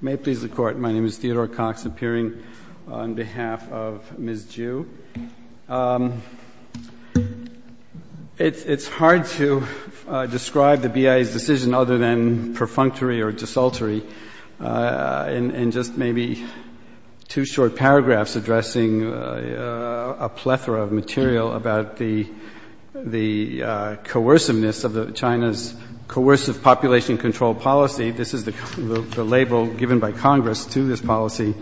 May it please the Court, my name is Theodore Cox, appearing on behalf of Ms. Zhu. It's hard to describe the BIA's decision other than perfunctory or desultory. In just maybe two short paragraphs addressing a plethora of material about the coerciveness of China's coercive population control policy, this is the label given by Congress to this policy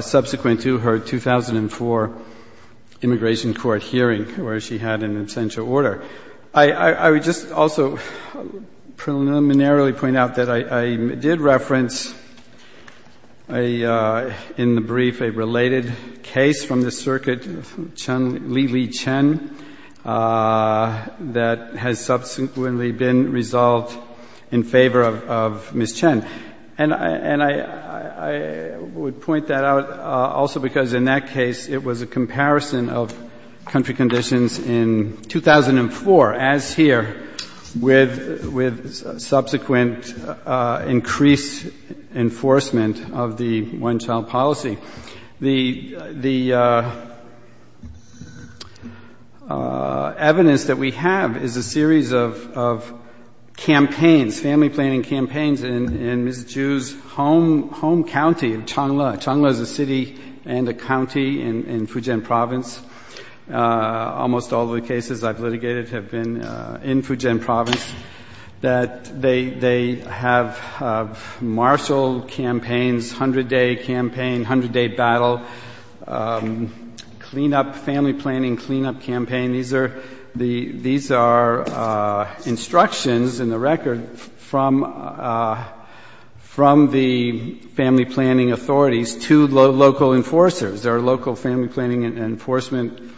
subsequent to her 2004 immigration court hearing where she had an absentia order. I would just also preliminarily point out that I did reference in the brief a related case from the circuit, Li Li Chen, that has subsequently been resolved in favor of Ms. Chen. And I would point that out also because in that case it was a comparison of country conditions in 2004, as here, with subsequent increased enforcement of the one-child policy. The evidence that we have is a series of campaigns, family planning campaigns in Ms. Zhu's home county of Changle. Changle is a city and a county in Fujian province. Almost all of the cases I've litigated have been in Fujian province. They have marshal campaigns, 100-day campaign, 100-day battle, cleanup family planning, cleanup campaign. These are instructions in the record from the family planning authorities to local enforcers. There are local family planning and enforcement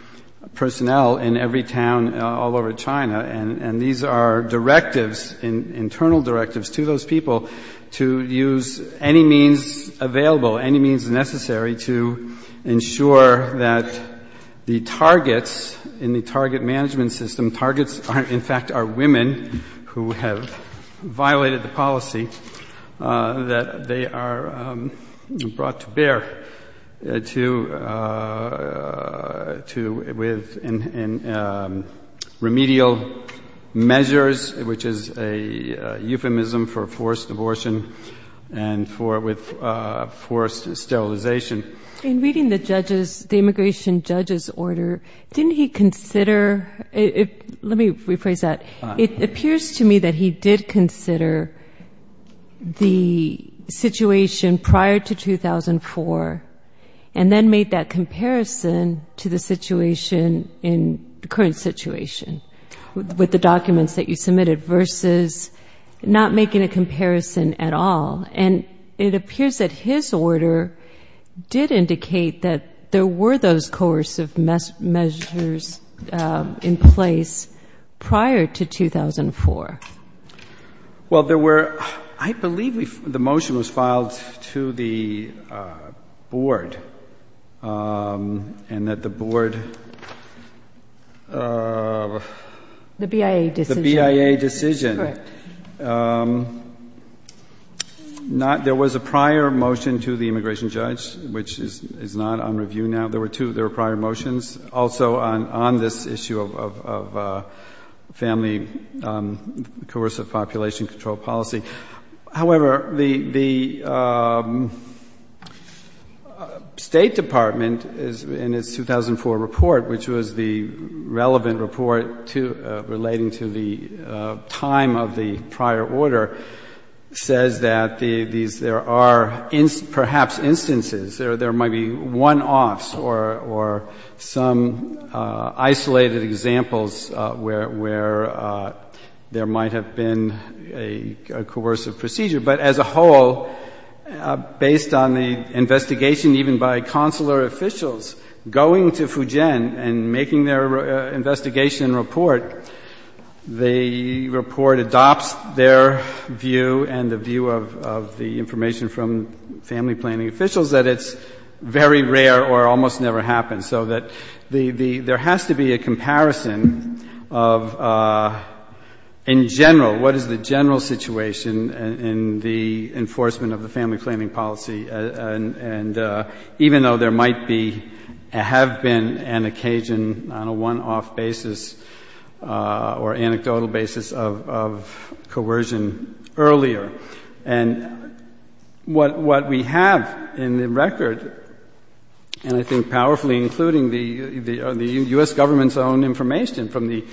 personnel in every town all over China. And these are directives, internal directives, to those people to use any means available, any means necessary to ensure that the targets in the target management system, targets in fact are women who have violated the policy, that they are brought to bear with remedial measures, which is a euphemism for forced abortion and with forced sterilization. In reading the judges, the immigration judges order, didn't he consider, let me rephrase that, it appears to me that he did consider the situation prior to 2004 and then made that comparison to the situation in the current situation with the documents that you submitted versus not making a comparison at all. And it appears that his order did indicate that there were those coercive measures in place prior to 2004. Well, there were, I believe the motion was filed to the board and that the board... The BIA decision. The BIA decision. Correct. There was a prior motion to the immigration judge, which is not on review now. There were two prior motions also on this issue of family coercive population control policy. However, the State Department in its 2004 report, which was the relevant report relating to the time of the prior order, says that there are perhaps instances, there might be one-offs or some isolated examples where there might have been a coercive procedure. But as a whole, based on the investigation even by consular officials going to Fujian and making their investigation report, the report adopts their view and the view of the information from family planning officials that it's very rare or almost never happens. So that there has to be a comparison of, in general, what is the general situation in the enforcement of the family planning policy, even though there might have been an occasion on a one-off basis or anecdotal basis of coercion earlier. And what we have in the record, and I think powerfully including the U.S. government's own information from the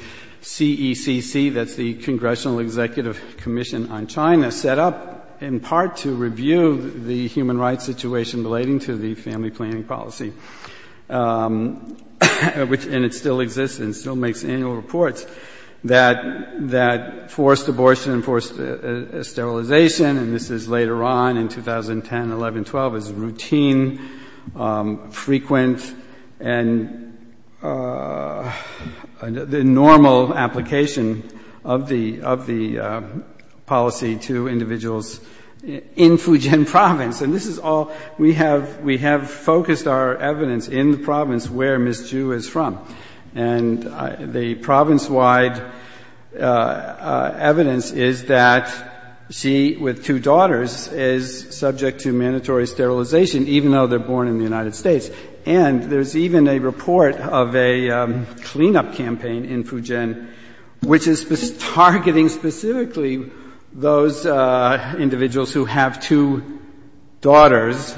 CECC, that's the Congressional Executive Commission on China, set up in part to review the human rights situation relating to the family planning policy. And it still exists and still makes annual reports that forced abortion and forced sterilization, and this is later on in 2010, 11, 12, is routine, frequent, and the normal application of the policy to individuals in Fujian province. And this is all, we have focused our evidence in the province where Ms. Zhu is from. And the province-wide evidence is that she, with two daughters, is subject to mandatory sterilization, even though they're born in the United States. And there's even a report of a cleanup campaign in Fujian, which is targeting specifically those individuals who have two daughters,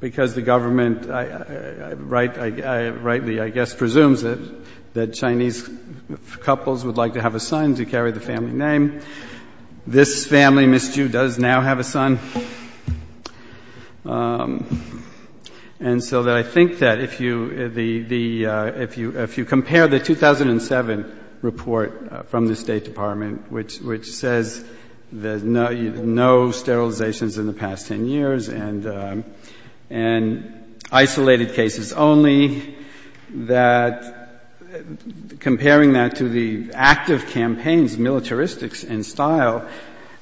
because the government rightly, I guess, presumes that Chinese couples would like to have a son to carry the family name. This family, Ms. Zhu, does now have a son. And so I think that if you compare the 2007 report from the State Department, which says there's no sterilizations in the past 10 years and isolated cases only, that comparing that to the active campaigns, militaristics and style,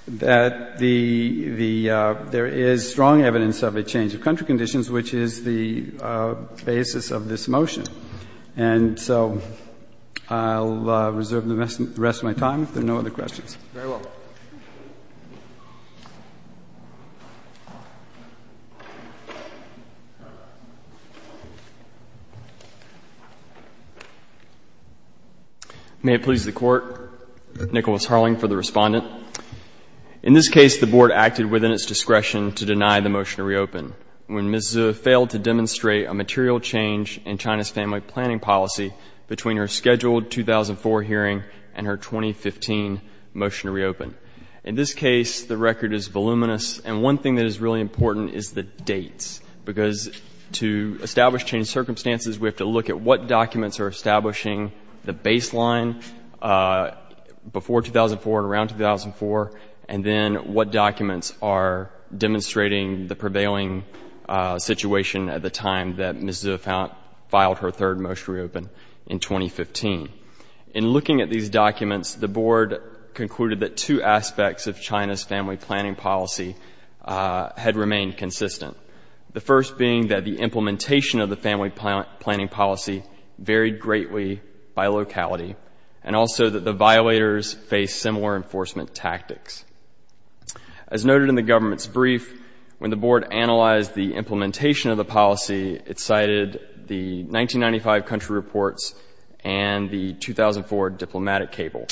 that there is strong evidence of a change of country conditions, which is the basis of this motion. And so I'll reserve the rest of my time if there are no other questions. Very well. May it please the Court. Nicholas Harling for the Respondent. In this case, the Board acted within its discretion to deny the motion to reopen. When Ms. Zhu failed to demonstrate a material change in China's family planning policy between her scheduled 2004 hearing and her 2015 motion to reopen. In this case, the record is voluminous. And one thing that is really important is the dates, because to establish changed circumstances, we have to look at what documents are establishing the baseline before 2004 and around 2004, and then what documents are demonstrating the prevailing situation at the time that Ms. Zhu filed her third motion to reopen in 2015. In looking at these documents, the Board concluded that two aspects of China's family planning policy had remained consistent. The first being that the implementation of the family planning policy varied greatly by locality, and also that the violators faced similar enforcement tactics. As noted in the government's brief, when the Board analyzed the implementation of the policy, it cited the 1995 country reports and the 2004 diplomatic cable.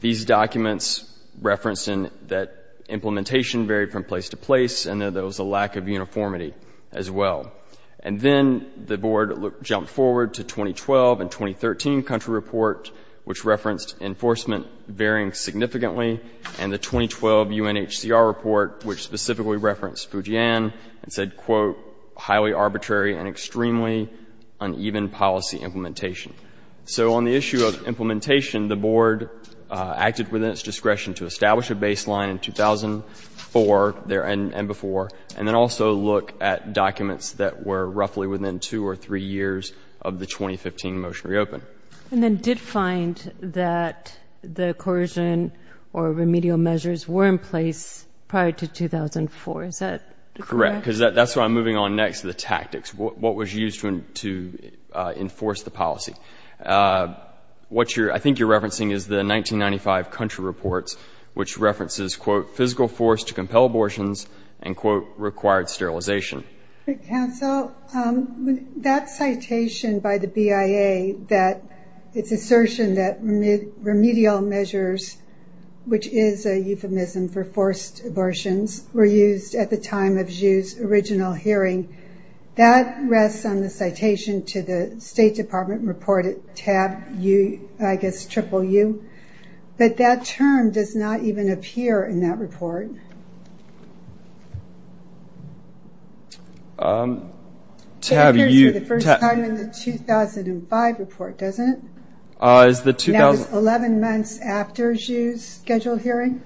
These documents referenced that implementation varied from place to place and that there was a lack of uniformity as well. And then the Board jumped forward to 2012 and 2013 country reports, which referenced enforcement varying significantly, and the 2012 UNHCR report, which specifically referenced Fujian, and said, quote, highly arbitrary and extremely uneven policy implementation. So on the issue of implementation, the Board acted within its discretion to establish a baseline in 2004 and before, and then also look at documents that were roughly within two or three years of the 2015 motion to reopen. And then did find that the coercion or remedial measures were in place prior to 2004. Is that correct? Correct, because that's what I'm moving on next, the tactics, what was used to enforce the policy. What I think you're referencing is the 1995 country reports, which references, quote, physical force to compel abortions, and, quote, required sterilization. Counsel, that citation by the BIA that it's assertion that remedial measures, which is a euphemism for forced abortions, were used at the time of Zhu's original hearing, that rests on the citation to the State Department report at tab U, I guess, triple U. But that term does not even appear in that report. It appears for the first time in the 2005 report, doesn't it? That was 11 months after Zhu's scheduled hearing?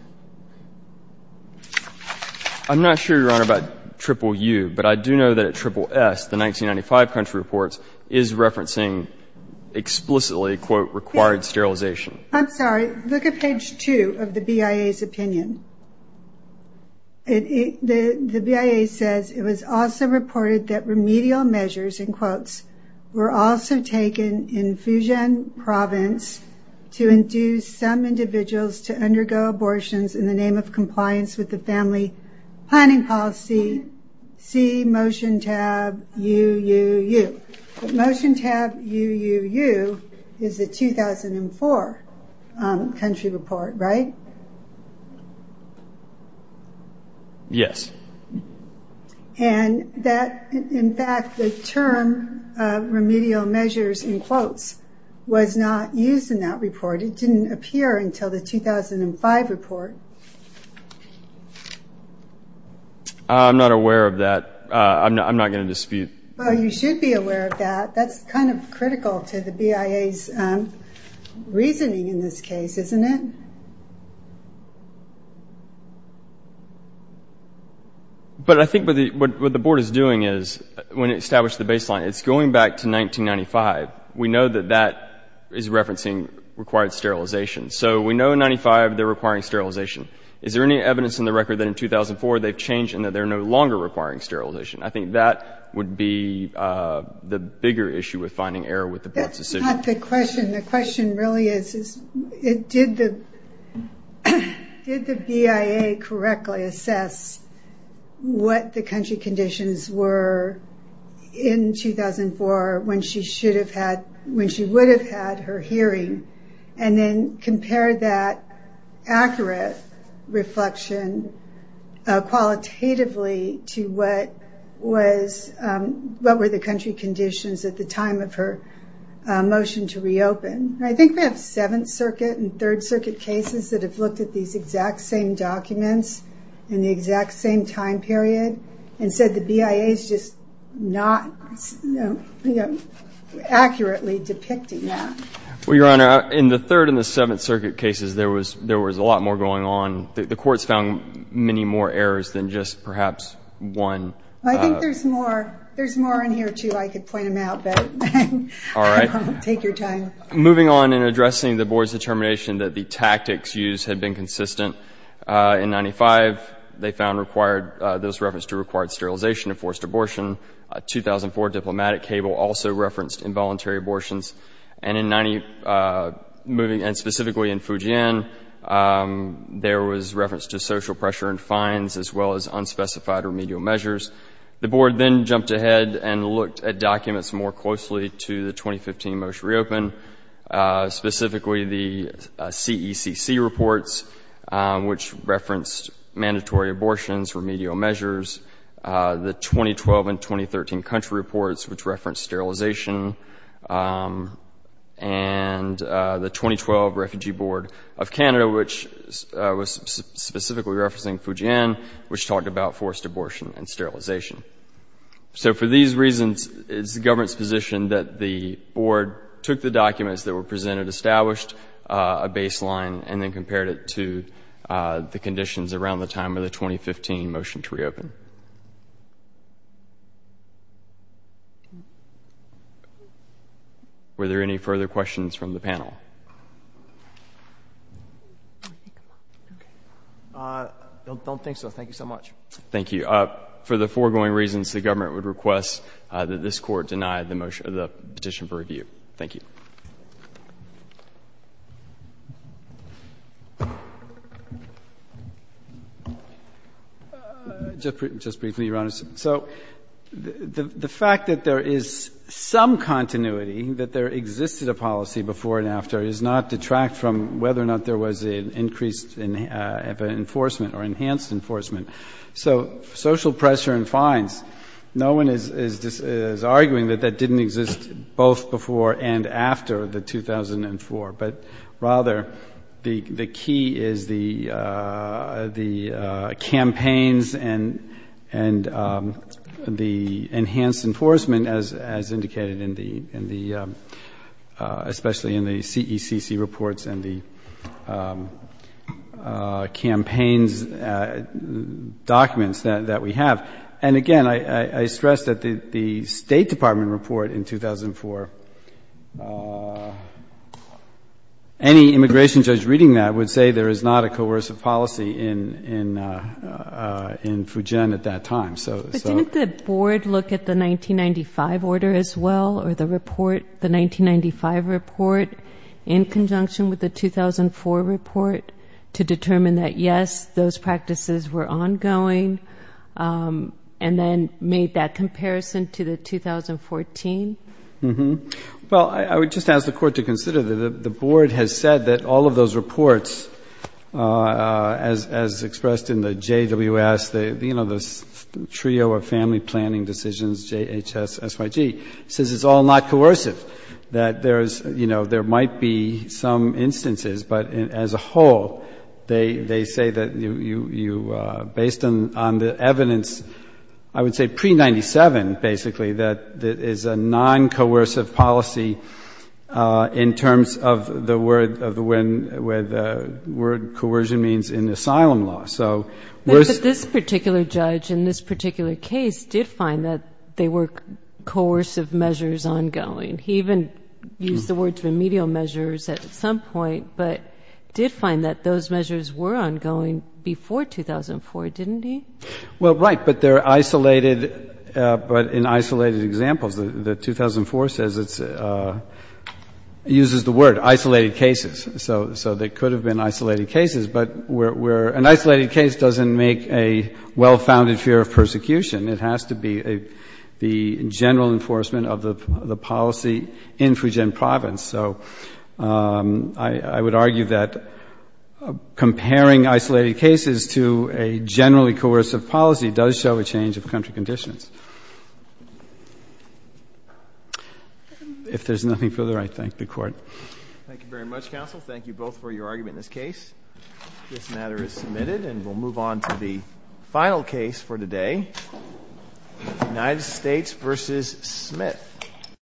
I'm not sure, Your Honor, about triple U, but I do know that at triple S, the 1995 country reports is referencing explicitly, quote, required sterilization. I'm sorry. Look at page two of the BIA's opinion. The BIA says it was also reported that remedial measures, in quotes, were also taken in Fujian province to induce some individuals to undergo abortions in the name of compliance with the family planning policy, see motion tab U, U, U. Motion tab U, U, U is the 2004 country report, right? Yes. In fact, the term remedial measures, in quotes, was not used in that report. It didn't appear until the 2005 report. I'm not aware of that. I'm not going to dispute. Well, you should be aware of that. That's kind of critical to the BIA's reasoning in this case, isn't it? But I think what the board is doing is, when it established the baseline, it's going back to 1995. We know that that is referencing required sterilization. So we know in 1995 they're requiring sterilization. Is there any evidence in the record that in 2004 they've changed and that they're no longer requiring sterilization? I think that would be the bigger issue with finding error with the board's decision. That's not the question. The question really is, did the BIA correctly assess what the country conditions were in 2004 when she would have had her hearing and then compare that accurate reflection qualitatively to what were the country conditions at the time of her motion to reopen? I think we have Seventh Circuit and Third Circuit cases that have looked at these exact same documents in the exact same time period and said the BIA is just not accurately depicting that. Well, Your Honor, in the Third and the Seventh Circuit cases, there was a lot more going on. The courts found many more errors than just perhaps one. I think there's more. There's more in here, too. I could point them out, but I won't take your time. Moving on in addressing the board's determination that the tactics used had been consistent, in 1995 they found those referenced to required sterilization and forced abortion. A 2004 diplomatic cable also referenced involuntary abortions. And specifically in Fujian, there was reference to social pressure and fines, as well as unspecified remedial measures. The board then jumped ahead and looked at documents more closely to the 2015 motion to reopen, specifically the CECC reports, which referenced mandatory abortions, remedial measures, the 2012 and 2013 country reports, which referenced sterilization, and the 2012 Refugee Board of Canada, which was specifically referencing Fujian, which talked about forced abortion and sterilization. So for these reasons, it's the government's position that the board took the documents that were presented, established a baseline, and then compared it to the conditions around the time of the 2015 motion to reopen. Were there any further questions from the panel? I don't think so. Thank you so much. Thank you. For the foregoing reasons, the government would request that this Court deny the petition for review. Thank you. Just briefly, Your Honor. So the fact that there is some continuity, that there existed a policy before and after, does not detract from whether or not there was an increased enforcement or enhanced enforcement. So social pressure and fines, no one is arguing that that didn't exist both before and after the 2004, but rather the key is the campaigns and the enhanced enforcement, as indicated especially in the CECC reports and the campaigns documents that we have. And again, I stress that the State Department report in 2004, any immigration judge reading that would say there is not a coercive policy in Fujian at that time. But didn't the board look at the 1995 order as well or the report, the 1995 report, in conjunction with the 2004 report to determine that, yes, those practices were ongoing, and then made that comparison to the 2014? Well, I would just ask the Court to consider that the board has said that all of those reports, as expressed in the JWS, the trio of family planning decisions, JHS, SYG, says it's all not coercive, that there is, you know, there might be some instances, but as a whole, they say that you, based on the evidence, I would say pre-'97, basically, that it is a noncoercive policy in terms of the word, where the word coercion means in asylum law. But this particular judge in this particular case did find that they were coercive measures ongoing. He even used the words remedial measures at some point, but did find that those measures were ongoing before 2004, didn't he? Well, right, but they're isolated, but in isolated examples. The 2004 says it's uses the word isolated cases. So they could have been isolated cases, but an isolated case doesn't make a well-founded fear of persecution. It has to be the general enforcement of the policy in Fujian Province. So I would argue that comparing isolated cases to a generally coercive policy does show a change of country conditions. If there's nothing further, I thank the Court. Thank you very much, Counsel. Thank you both for your argument in this case. This matter is submitted, and we'll move on to the final case for today, United States v. Smith.